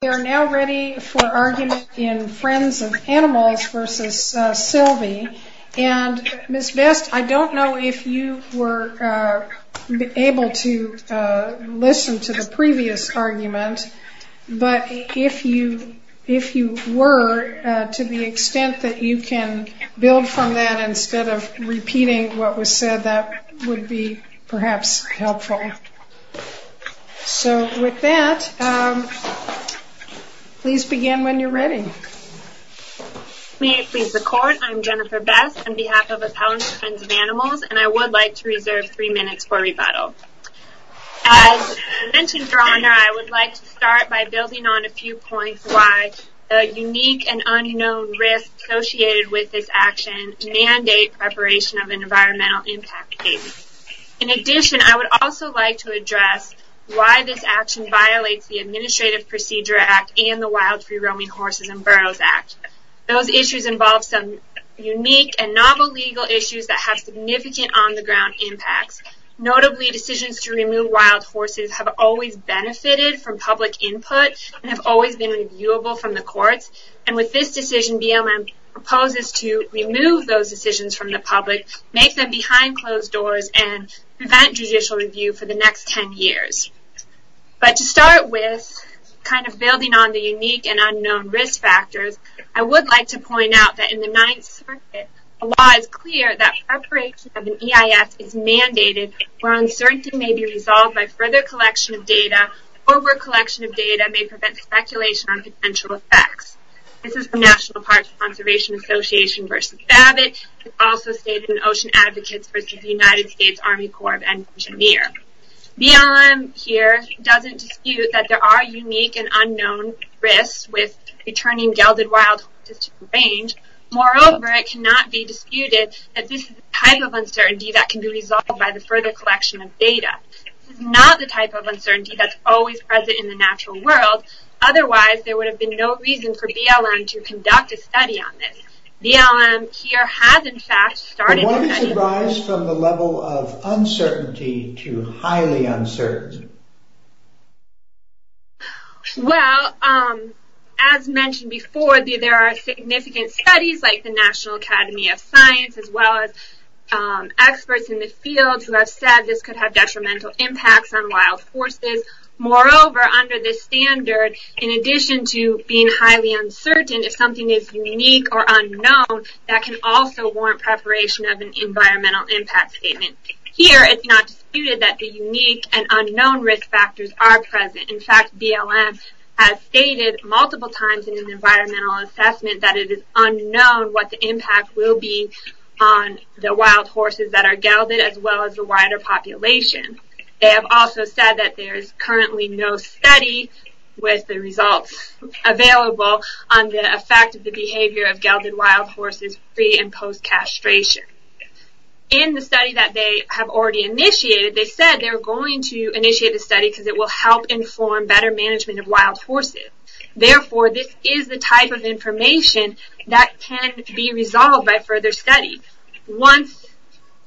They are now ready for argument in Friends of Animals v. Silvey and Ms. Best, I don't know if you were able to listen to the previous argument, but if you were, to the extent that you can build from that instead of repeating what was said, that would be perhaps helpful. Okay, so with that, please begin when you're ready. Jennifer Best May it please the Court, I'm Jennifer Best on behalf of Appellants to Friends of Animals and I would like to reserve three minutes for rebuttal. As mentioned, Your Honor, I would like to start by building on a few points why the unique and unknown risks associated with this action mandate preparation of an In addition, I would also like to address why this action violates the Administrative Procedure Act and the Wild Free Roaming Horses and Burros Act. Those issues involve some unique and novel legal issues that have significant on-the-ground impacts. Notably, decisions to remove wild horses have always benefited from public input and have always been reviewable from the courts. And with this decision, BLM proposes to remove those decisions from the public, make them behind closed doors, and prevent judicial review for the next 10 years. But to start with, kind of building on the unique and unknown risk factors, I would like to point out that in the Ninth Circuit, the law is clear that preparation of an EIS is mandated where uncertainty may be resolved by further collection of data or where collection of data may prevent speculation on potential effects. This is the National Parks Conservation Association v. Babbitt, also stated in Ocean Advocates v. United States Army Corps of Engineers. BLM here doesn't dispute that there are unique and unknown risks with returning gelded wild horses to the range. Moreover, it cannot be disputed that this is a type of uncertainty that can be resolved by the further collection of data. This is not the type of uncertainty that's always present in the natural world. Otherwise, there would have been no reason for BLM to conduct a study on this. BLM here has, in fact, started a study. Why does it rise from the level of uncertainty to highly uncertain? Well, as mentioned before, there are significant studies like the National Academy of Science, as well as experts in the field who have said this could have detrimental impacts on wild horses. It is highly uncertain if something is unique or unknown that can also warrant preparation of an environmental impact statement. Here, it's not disputed that the unique and unknown risk factors are present. In fact, BLM has stated multiple times in an environmental assessment that it is unknown what the impact will be on the wild horses that are gelded as well as the wider population. They have also said that there is currently no study with the results available on the effect of the behavior of gelded wild horses pre- and post-castration. In the study that they have already initiated, they said they're going to initiate a study because it will help inform better management of wild horses. Therefore, this is the type of information that can be resolved by further study. Once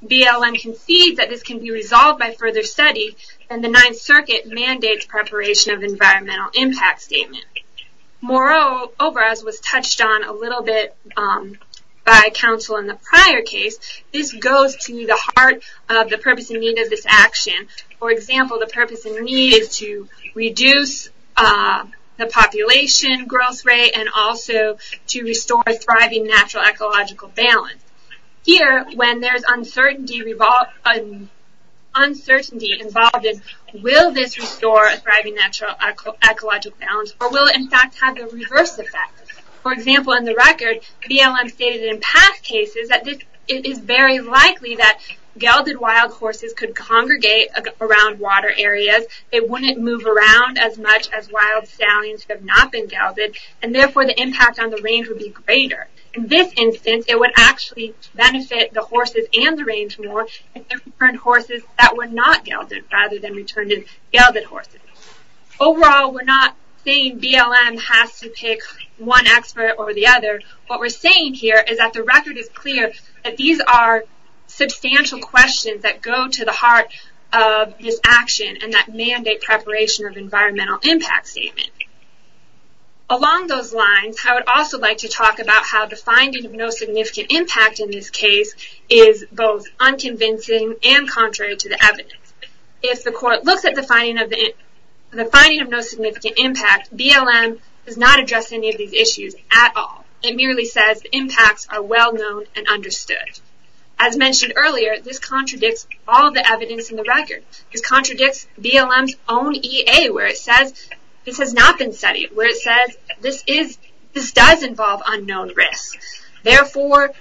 BLM concedes that this can be resolved by further study, then the Ninth Circuit mandates preparation of an environmental impact statement. Moreover, as was touched on a little bit by counsel in the prior case, this goes to the heart of the purpose and need of this action. For example, the purpose and need is to reduce the population growth rate and also to restore a thriving natural ecological balance. Here, when there is uncertainty involved, will this restore a thriving natural ecological balance or will it in fact have a reverse effect? For example, in the record, BLM stated in past cases that it is very likely that gelded wild horses could congregate around water areas. They wouldn't move around as much as they did later. In this instance, it would actually benefit the horses and the range more if they returned horses that were not gelded rather than returned as gelded horses. Overall, we're not saying BLM has to pick one expert over the other. What we're saying here is that the record is clear that these are substantial questions that go to the heart of this action and that mandate preparation of environmental impact statement. Along those lines, I would also like to talk about how the finding of no significant impact in this case is both unconvincing and contrary to the evidence. If the court looks at the finding of no significant impact, BLM does not address any of these issues at all. It merely says the impacts are well known and understood. As mentioned earlier, this contradicts all the evidence in the record. This contradicts BLM's own EA where it says this has not been This does involve unknown risks. Therefore,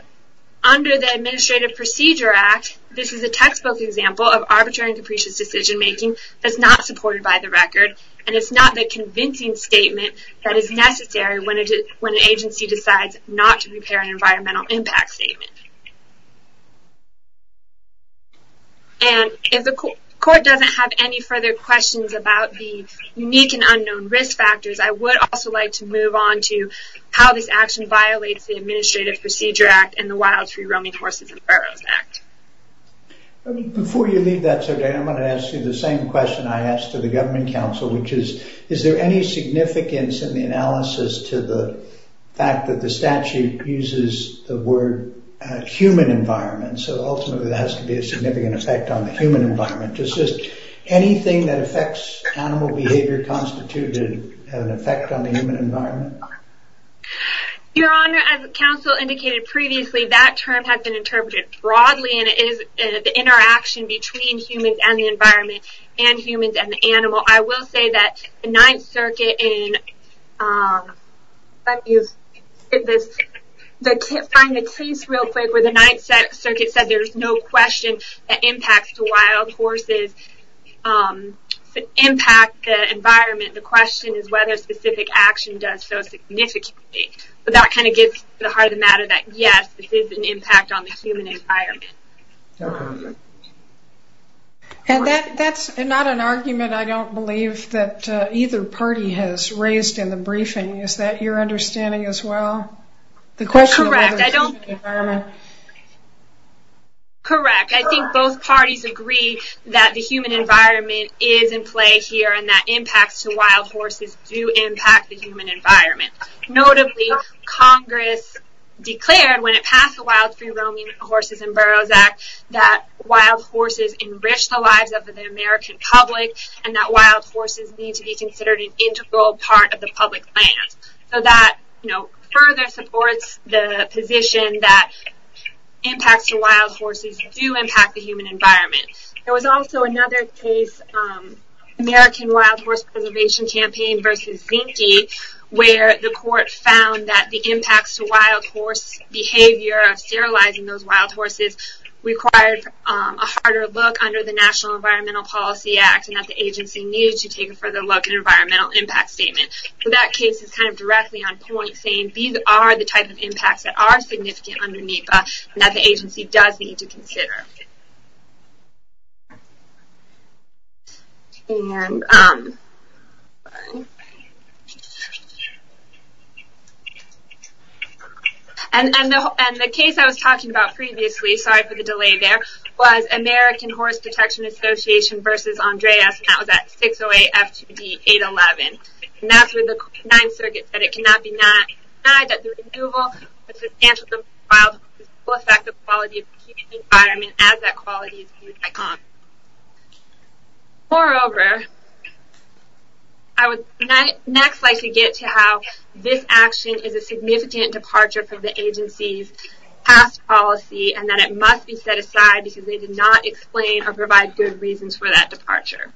under the Administrative Procedure Act, this is a textbook example of arbitrary and capricious decision making that's not supported by the record and it's not the convincing statement that is necessary when an agency decides not to prepare an environmental impact statement. If the court doesn't have any further questions about the unique and unknown risk factors, I would also like to move on to how this action violates the Administrative Procedure Act and the Wild, Free, Roaming Horses and Burros Act. Before you leave that, I'm going to ask you the same question I asked to the government council, which is, is there any significance in the analysis to the fact that the statute uses the word human environment? Ultimately, there has to be a significant effect on the animal behavior constituted an effect on the human environment? Your Honor, as the council indicated previously, that term has been interpreted broadly and it is the interaction between humans and the environment and humans and the animal. I will say that the Ninth Circuit in, let me find the case real quick, where the Ninth Circuit said there's no question that impacts the wild horses, impact the environment. The question is whether specific action does so significantly. That kind of gets to the heart of the matter that yes, this is an impact on the human environment. And that's not an argument I don't believe that either party has raised in the briefing. Is that your understanding as well? Correct. I think both parties agree that the human environment is in play here and that impacts to wild horses do impact the human environment. Notably, Congress declared when it passed the Wild Free Roaming Horses and Burros Act that wild horses enrich the lives of the American public and that wild horses need to be considered an integral part of the public lands. So that further supports the position that impacts to wild horses do impact the human environment. There was also another case, American Wild Horse Preservation Campaign versus Zinke where the court found that the impacts to wild horse behavior of sterilizing those wild horses required a harder look under the National Environmental Policy Act and that the agency needed to take a further look at an environmental impact statement. So that case is kind of directly on point saying these are the type of impacts that are significant under NEPA and that the agency does need to consider. And the case I was talking about previously, sorry for the delay there, was American Horse Protection Association versus Andres and that was at 608 F2D 811. And that's where the Ninth Circuit said it cannot be denied that the removal of substantial wild horses will affect the quality of the human environment as that quality is viewed by Congress. Moreover, I would next like to get to how this action is a significant departure from the agency's past policy and that it must be set aside because they did not explain or provide good reasons for that departure.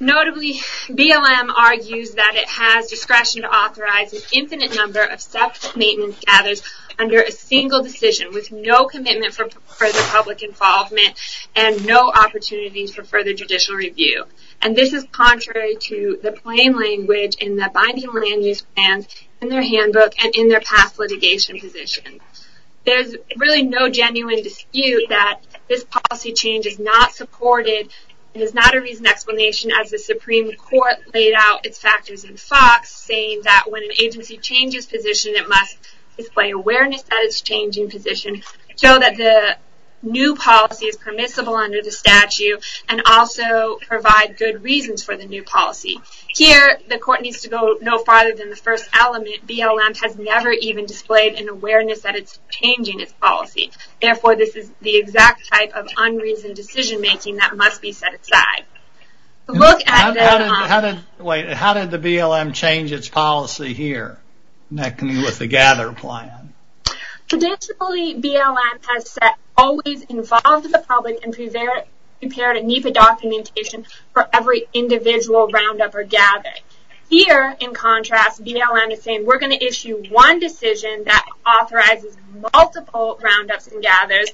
Notably, BLM argues that it has discretion to authorize an infinite number of separate maintenance gathers under a single decision with no commitment for further public involvement and no opportunities for further judicial review. And this is contrary to the plain language in the binding land use plans in their handbook and in their past litigation position. There's really no genuine dispute that this policy change is not supported and is not a reasoned explanation as the Supreme Court laid out its factors in FOX saying that when an agency changes position, it must display awareness that it's changing position, show that the new policy is permissible under the statute, and also provide good reasons for the new policy. Here, the court needs to go no farther than the first element. BLM has never even displayed an awareness that it's changing its policy. Therefore, this is the exact type of unreasoned decision making that must be set aside. How did the BLM change its policy here with the gather plan? Traditionally, BLM has always involved the public and prepared a NEPA documentation for every individual roundup or gather. Here, in contrast, BLM is saying we're going to issue one decision that authorizes multiple roundups and gathers,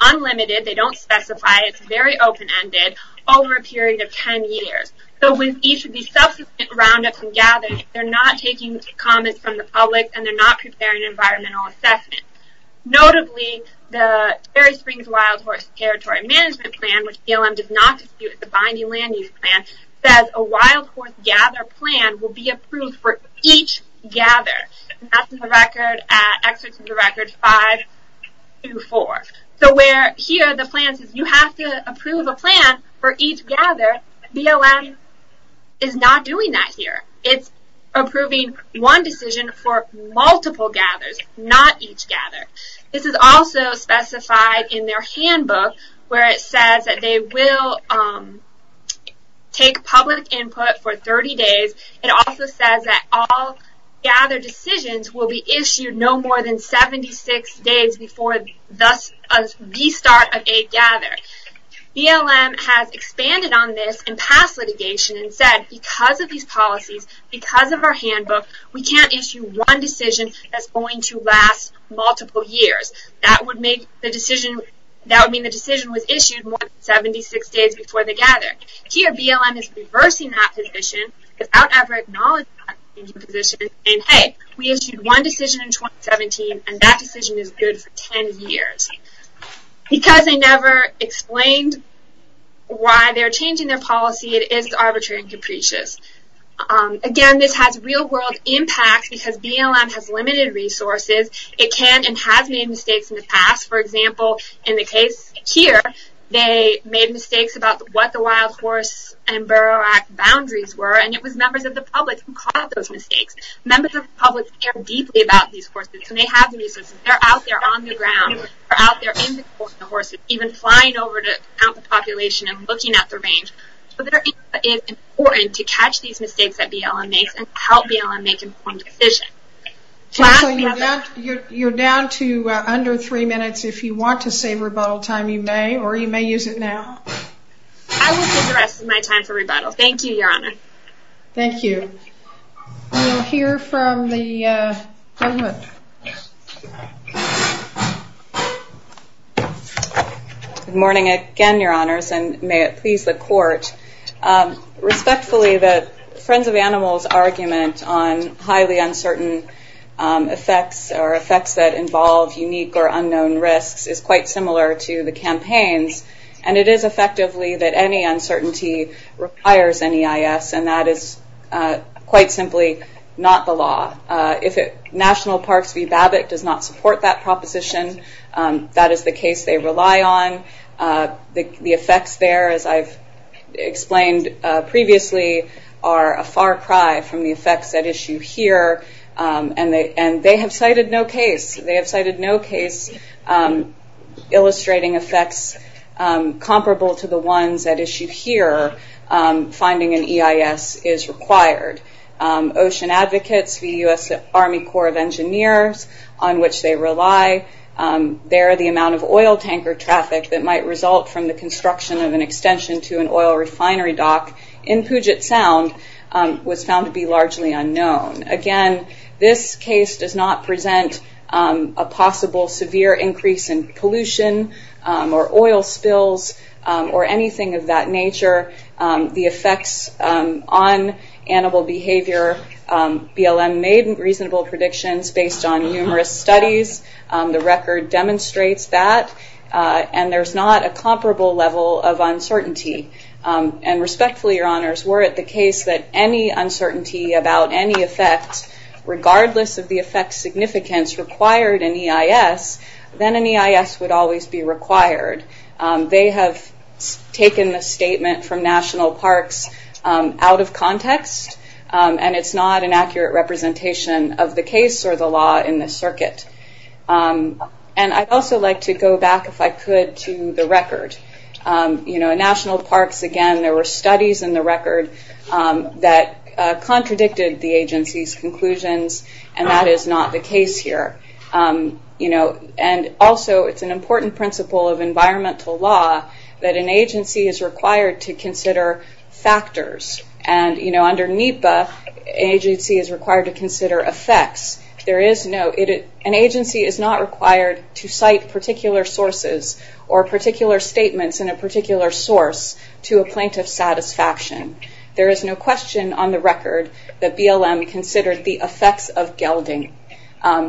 unlimited, they don't specify, it's very open-ended, over a period of 10 years. So, with each of these subsequent roundups and gathers, they're not taking comments from the public and they're not preparing environmental assessment. Notably, the Ferry Springs Wild Horse Territory Management Plan, which BLM does not dispute, the Binding Land Use Plan, says a wild horse gather plan will be approved for each gather. That's in the record, excerpts of the record 5-4. So, where here the plan says you have to approve a plan for each gather, BLM is not doing that here. It's approving one decision for multiple gathers, not each gather. This is also specified in their handbook, where it says that they will take public input for 30 days. It also says that all gather decisions will be issued no more than 76 days before the start of a gather. BLM has expanded on this in past litigation and said, because of these policies, because of our handbook, we can't issue one decision that's going to last multiple years. That would mean the decision was issued more than 76 days before the gather. Here, BLM is reversing that position without ever acknowledging that position and saying, hey, we issued one decision in 2017 and that decision is good for 10 years. Because they never explained why they're changing their policy, it is arbitrary and capricious. Again, this has real-world impact because BLM has limited resources. It can and has made mistakes in the past. For example, in the case here, they made mistakes about what the Wild Horse and Burrow Act boundaries were, and it was members of the public who caused those mistakes. Members of the public care deeply about these horses, so they have the resources. They're out there on the ground, they're out there in the course of the horses, even flying over to count the population and looking at their range. So, it is important to catch these mistakes that BLM makes and help BLM make an informed decision. You're down to under three minutes. If you want to save rebuttal time, you may, or you may use it now. I will save the rest of my time for rebuttal. Thank you, Your Honor. Thank you. We'll hear from the government. Good morning again, Your Honors, and may it please the Court. Respectfully, the Department of Animals' argument on highly uncertain effects or effects that involve unique or unknown risks is quite similar to the campaign's, and it is effectively that any uncertainty requires NEIS, and that is quite simply not the law. If National Parks v. BABBITT does not support that proposition, that is the case they rely on. The effects there, as I've explained previously, are a far cry from the effects at issue here, and they have cited no case. They have cited no case illustrating effects comparable to the ones at issue here. Finding an EIS is required. Ocean Advocates v. U.S. Army Corps of Engineers, on which they rely, they're the amount of oil tanker traffic that might result from the construction of an extension to an oil refinery dock in Puget Sound was found to be largely unknown. Again, this case does not present a possible severe increase in pollution or oil spills or anything of that nature. The effects on animal behavior, BLM made reasonable predictions based on numerous studies. The record demonstrates that, and there's not a comparable level of uncertainty. And respectfully, Your Honors, were it the case that any uncertainty about any effect, regardless of the effect's significance, required an EIS, then an EIS would always be required. They have taken the statement from National Parks out of context, and it's not an accurate representation of the case or the law in the circuit. And I'd also like to go back, if I could, to the record. In National Parks, again, there were studies in the record that contradicted the agency's conclusions, and that is not the case here. And also, it's an important principle of environmental law that an agency is required to consider factors. And under NEPA, an agency is required to consider effects. An agency is not required to cite particular sources or particular statements in a particular source to a plaintiff's satisfaction. There is no question on the record that BLM considered the effects of gelding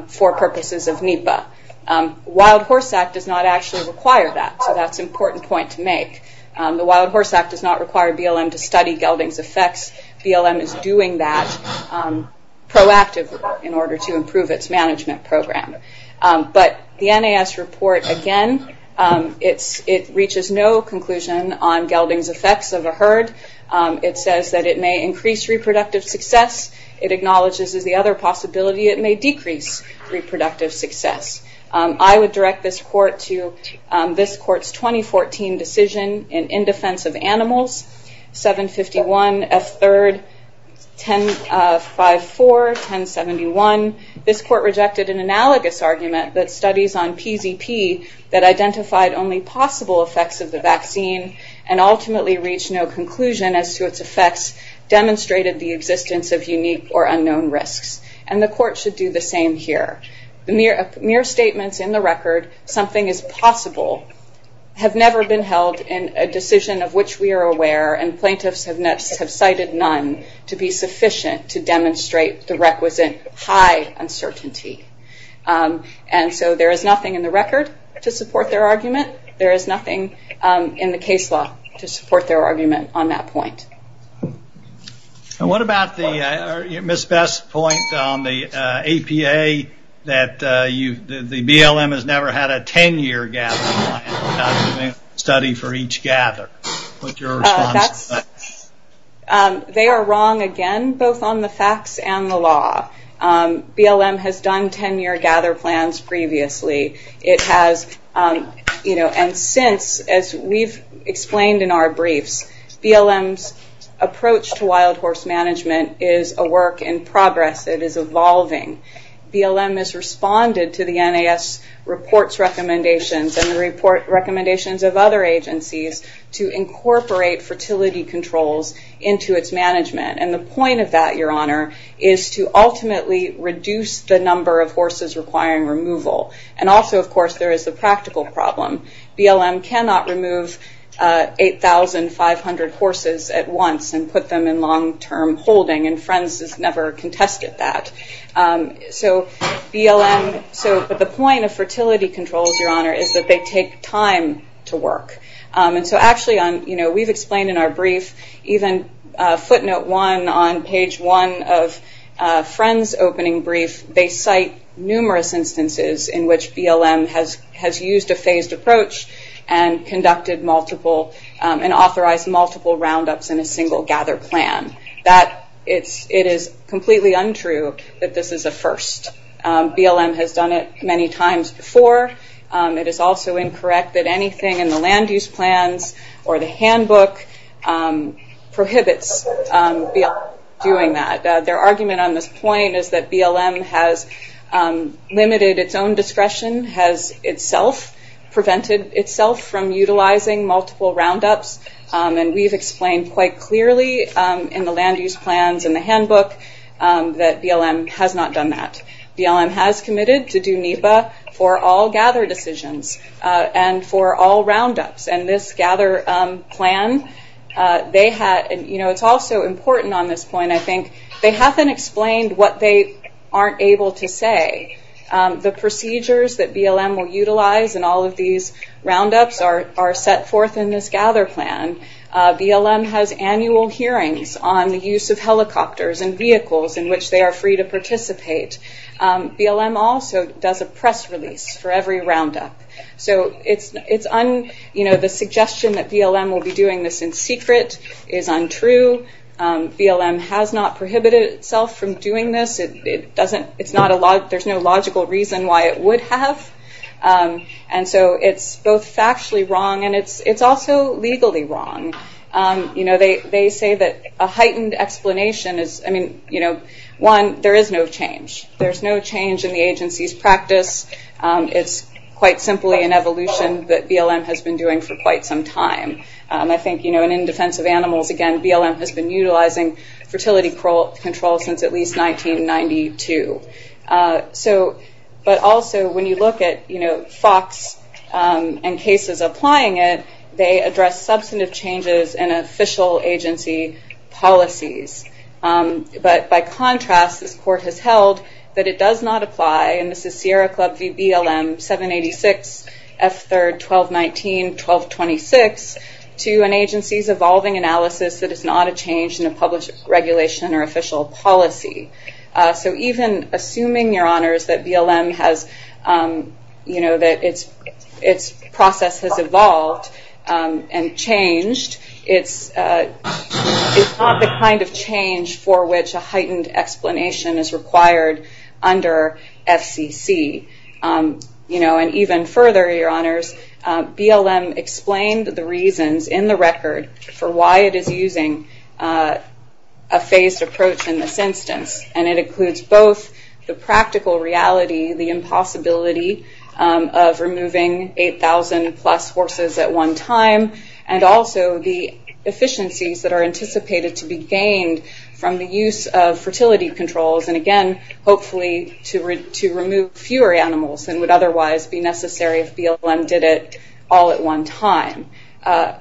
for purposes of NEPA. The Wild Horse Act does not actually require that, so that's an important point to make. The Wild Horse Act does not require BLM to study gelding's effects. BLM is doing that proactively in order to improve its management program. But the NAS report, again, it reaches no conclusion on gelding's effects of a herd. It says that it may increase reproductive success. It acknowledges the other possibility, it may decrease reproductive success. I would direct this court to this court's 2014 decision in defense of animals, 751 F3-1054-1071. This court rejected an analogous argument that studies on PZP that identified only possible effects of the vaccine and ultimately reached no conclusion as to its effects demonstrated the existence of unique or unknown risks. And the court should do the same here. Mere statements in the record, something is possible, have never been held a decision of which we are aware, and plaintiffs have cited none to be sufficient to demonstrate the requisite high uncertainty. And so there is nothing in the record to support their argument. There is nothing in the case law to support their argument on that point. And what about the, Ms. Best's point on the APA, that the BLM has never had a 10-year gather plan, study for each gather. What's your response to that? They are wrong again, both on the facts and the law. BLM has done 10-year gather plans previously. It has, and since, as we've explained in our briefs, BLM's approach to wild horse management is a work in progress. It is evolving. BLM has responded to the NAS report's recommendations and the recommendations of other agencies to incorporate fertility controls into its management. And the point of that, your honor, is to ultimately reduce the number of horses requiring removal. And also, of course, there is the practical problem. BLM cannot remove 8,500 horses at once and put them in long-term holding, and Friends has never contested that. So BLM, so, but the point of fertility controls, your honor, is that they take time to work. And so actually on, you know, we've explained in our brief, even footnote one on page one of numerous instances in which BLM has used a phased approach and conducted multiple and authorized multiple roundups in a single gather plan. That, it is completely untrue that this is a first. BLM has done it many times before. It is also incorrect that anything in the land use plans or the handbook prohibits BLM from doing that. Their argument on this point is that BLM has limited its own discretion, has itself prevented itself from utilizing multiple roundups, and we've explained quite clearly in the land use plans and the handbook that BLM has not done that. BLM has committed to do NEPA for all gather decisions and for all roundups. And this gather plan, they had, you know, it's also important on this point, I think, they haven't explained what they aren't able to say. The procedures that BLM will utilize in all of these roundups are set forth in this gather plan. BLM has annual hearings on the use of helicopters and vehicles in which they are free to participate. BLM also does a press release for every roundup. So it's, you know, the suggestion that BLM will be doing this in secret is untrue. BLM has not prohibited itself from doing this. It doesn't, it's not a lot, there's no logical reason why it would have. And so it's both factually wrong and it's also legally wrong. You know, they say that a heightened explanation is, I mean, you know, one, there is no change. There's no change in the agency's practice. It's quite simply an evolution that BLM has been doing for quite some time. I think, you know, and in defense of animals, again, BLM has been utilizing fertility control since at least 1992. So, but also when you look at, you know, FOX and cases applying it, they address substantive changes in official agency policies. But by contrast, this court has held that it does not apply, and this is Sierra Club v. BLM, 786 F3, 1219, 1226, to an agency's evolving analysis that is not a change in a published regulation or official policy. So even assuming, Your Honors, that BLM has, you know, that its process has evolved and changed, it's not the kind of change for which a heightened explanation is required under FCC. You know, and even further, Your Honors, BLM explained the reasons in the record for why it is using a phased approach in this instance, and it includes both the practical reality, the impossibility of removing 8,000 plus horses at one time, and also the efficiencies that are anticipated to be gained from the use of fertility controls, and again, hopefully, to remove fewer animals than would otherwise be necessary if BLM did it all at one time.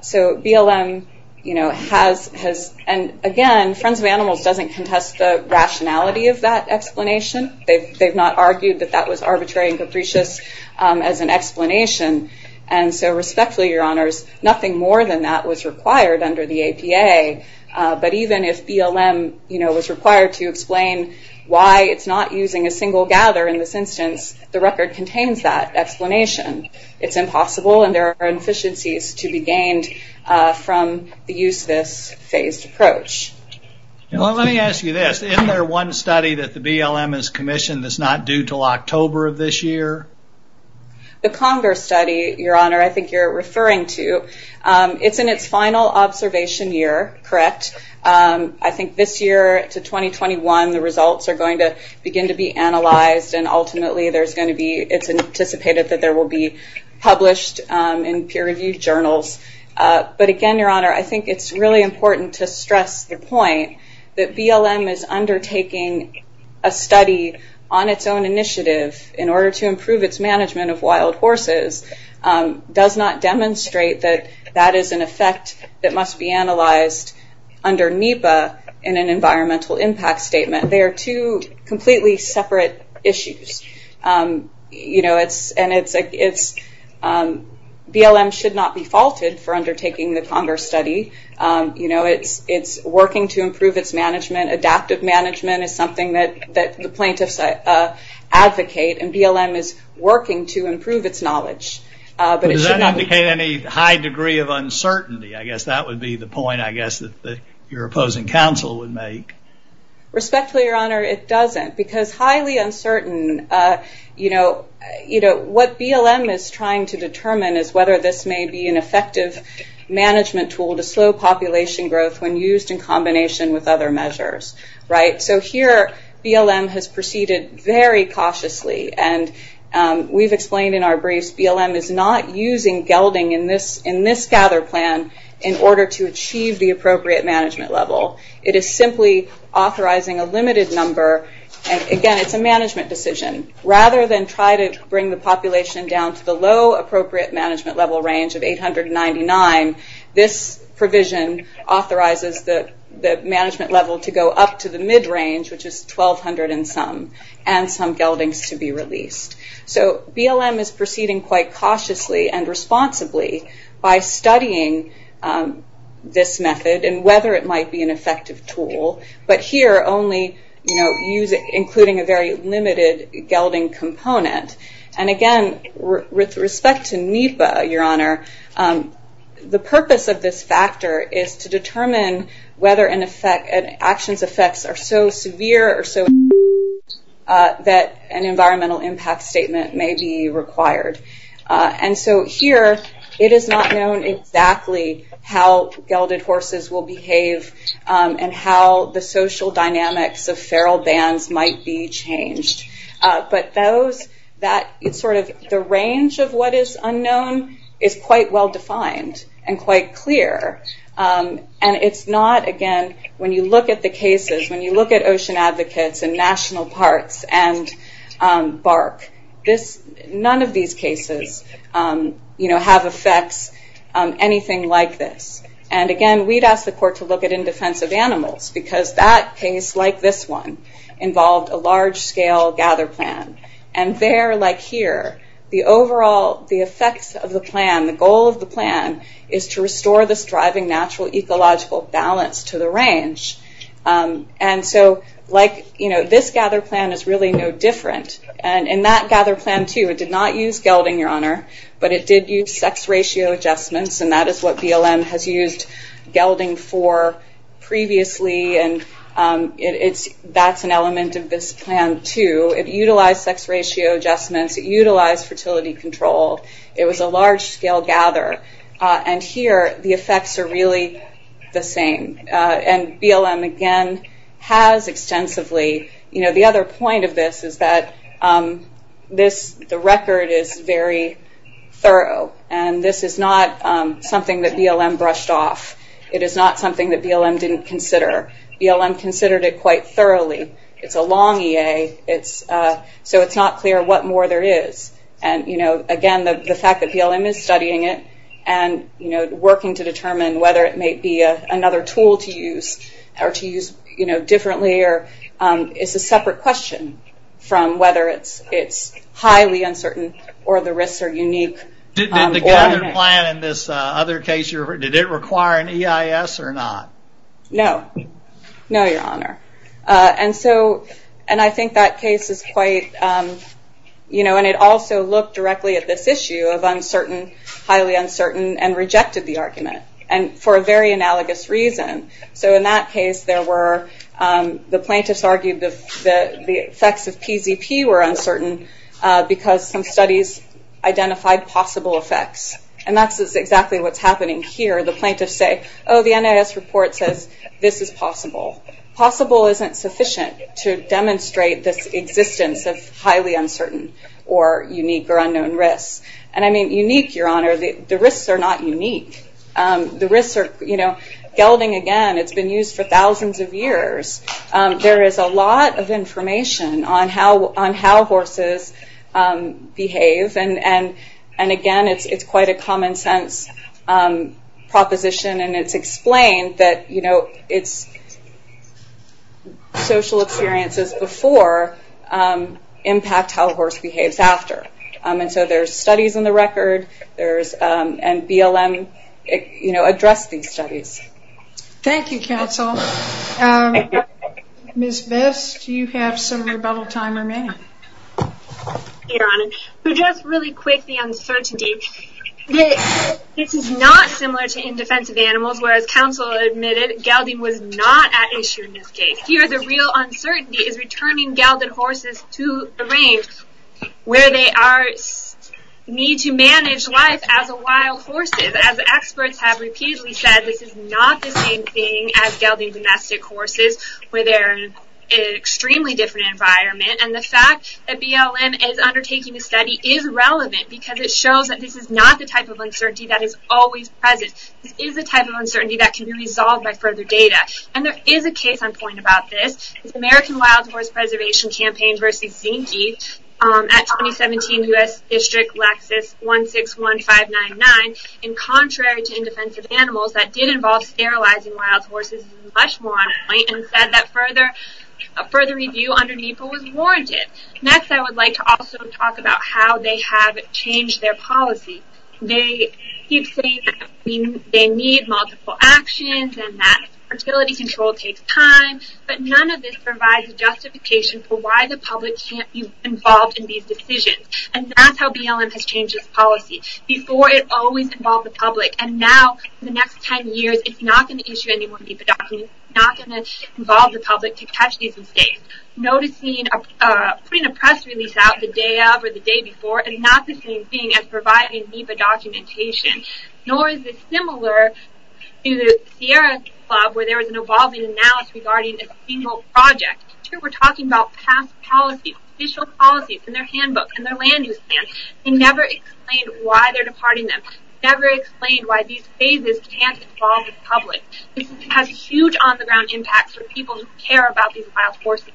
So BLM, you know, has, and again, Friends of Animals doesn't contest the rationality of that argument, argued that that was arbitrary and capricious as an explanation, and so respectfully, Your Honors, nothing more than that was required under the APA, but even if BLM, you know, was required to explain why it's not using a single gather in this instance, the record contains that explanation. It's impossible and there are inefficiencies to be gained from the use of this phased approach. Well, let me ask you this. Isn't there one study that the BLM has commissioned that's not due till October of this year? The Congress study, Your Honor, I think you're referring to, it's in its final observation year, correct? I think this year to 2021, the results are going to begin to be analyzed, and ultimately, there's going to be, it's anticipated that there will be published in peer-reviewed journals, but again, Your Honor, I think it's really important to stress the point that BLM is undertaking a study on its own initiative in order to improve its management of wild horses, does not demonstrate that that is an effect that must be analyzed under NEPA in an environmental impact statement. They are two completely separate issues, you know, and it's, BLM should not be faulted for undertaking the Congress study, you know, it's working to improve its management. Adaptive management is something that the plaintiffs advocate, and BLM is working to improve its knowledge, but it should not- Does that indicate any high degree of uncertainty? I guess that would be the point, I guess, that your opposing counsel would make. Respectfully, Your Honor, it doesn't, because highly uncertain, you know, what BLM is trying to determine is whether this may be effective management tool to slow population growth when used in combination with other measures, right? So here, BLM has proceeded very cautiously, and we've explained in our briefs, BLM is not using gelding in this gather plan in order to achieve the appropriate management level. It is simply authorizing a limited number, and again, it's a management decision. Rather than try to bring the population down to the low appropriate management level range of 899, this provision authorizes the management level to go up to the mid-range, which is 1,200 and some, and some geldings to be released. So BLM is proceeding quite cautiously and responsibly by studying this method and whether it might be an effective tool, but here, only, you know, and again, with respect to NEPA, Your Honor, the purpose of this factor is to determine whether an effect, an action's effects are so severe or so, that an environmental impact statement may be required. And so here, it is not known exactly how gelded horses will behave and how the social that, sort of, the range of what is unknown is quite well defined and quite clear. And it's not, again, when you look at the cases, when you look at ocean advocates and national parks and bark, this, none of these cases, you know, have effects, anything like this. And again, we'd ask the court to look at indefensive animals because that case, like this one, involved a large-scale gather plan. And there, like here, the overall, the effects of the plan, the goal of the plan is to restore this driving natural ecological balance to the range. And so, like, you know, this gather plan is really no different. And in that gather plan, too, it did not use gelding, Your Honor, but it did use sex ratio adjustments, and that is what element of this plan, too. It utilized sex ratio adjustments. It utilized fertility control. It was a large-scale gather. And here, the effects are really the same. And BLM, again, has extensively, you know, the other point of this is that this, the record is very thorough. And this is not something that BLM brushed off. It is not something that BLM didn't consider. BLM considered it quite thoroughly. It's a long EA, so it's not clear what more there is. And, you know, again, the fact that BLM is studying it and, you know, working to determine whether it may be another tool to use or to use, you know, differently, or it's a separate question from whether it's highly uncertain or the risks are unique. Did the gather plan in this other case, did it require an EIS or not? No. No, Your Honor. And so, and I think that case is quite, you know, and it also looked directly at this issue of uncertain, highly uncertain, and rejected the argument, and for a very analogous reason. So in that case, there were, the plaintiffs argued that the effects of PZP were uncertain because some studies identified possible effects. And that's exactly what's happening here. The plaintiffs say, oh, the NIS report says this is possible. Possible isn't sufficient to demonstrate this existence of highly uncertain or unique or unknown risks. And I mean, unique, Your Honor, the risks are not unique. The risks are, you know, gelding again, it's been used for thousands of years to show how horses behave. And again, it's quite a common sense proposition, and it's explained that, you know, it's social experiences before impact how a horse behaves after. And so there's studies in the record, there's, and BLM, you know, addressed these studies. Thank you, counsel. Ms. Best, do you have some rebuttal time remaining? Your Honor, just really quick, the uncertainty. This is not similar to in defensive animals, whereas counsel admitted gelding was not at issue in this case. Here, the real uncertainty is returning gelded horses to the range where they are, need to manage life as a wild horses. As experts have repeatedly said, this is not the same thing as gelding domestic horses, where they're in an extremely different environment. And the fact that BLM is undertaking a study is relevant because it shows that this is not the type of uncertainty that is always present. This is a type of uncertainty that can be resolved by further data. And there is a case on point about this. It's the American Wild Horse Preservation Campaign versus Zinke at 2017 U.S. District Lexus 161599. And contrary to in defensive animals, that did involve sterilizing wild horses much more on point and said that further review under NEPA was warranted. Next, I would like to also talk about how they have changed their policy. They keep saying they need multiple actions and that fertility control takes time, but none of this provides a justification for why the public can't be involved in these decisions. And that's how BLM has changed its policy. Before, it always involved the public. And now, for the next 10 years, it's not going to issue any more NEPA documents. It's not going to involve the public to catch these mistakes. Noticing, putting a press release out the day of or the day before is not the same thing as providing NEPA documentation. Nor is it similar to the Sierra Club where there was an evolving analysis regarding a single project. Here, we're talking about past policy, official policies in their handbook, in their land use plan. They never explained why they're departing them. Never explained why these phases can't involve the public. This has a huge on the ground impact for people who care about these wild horses.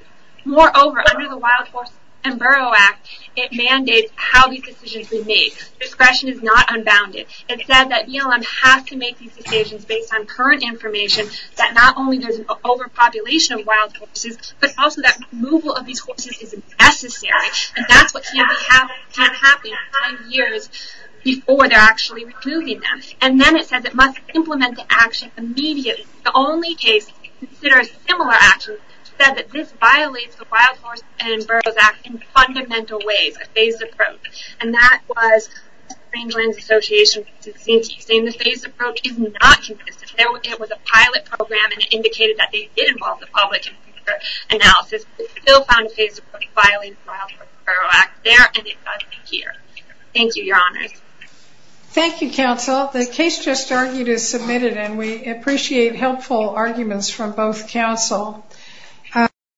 Moreover, under the Wild Horses and Burrow Act, it mandates how these decisions are made. Discretion is not unbounded. It said that BLM has to make these decisions based on current information that not only there's an over population of wild horses, but also that removal of these horses is necessary. And that's what can happen five years before they're actually removing them. And then it says it must implement the action immediately. The only case that considers similar actions said that this violates the Wild Horses and Burrows Act in fundamental ways, a phased approach. And that was the Framelands Association, saying the phased approach is not consistent. It was a pilot program and it indicated that they did involve the public in future analysis, but still found the phased approach violated the Wild Horses and Burrows Act there and it does here. Thank you, your honors. Thank you, counsel. The case just argued is submitted and we appreciate helpful arguments from both counsel.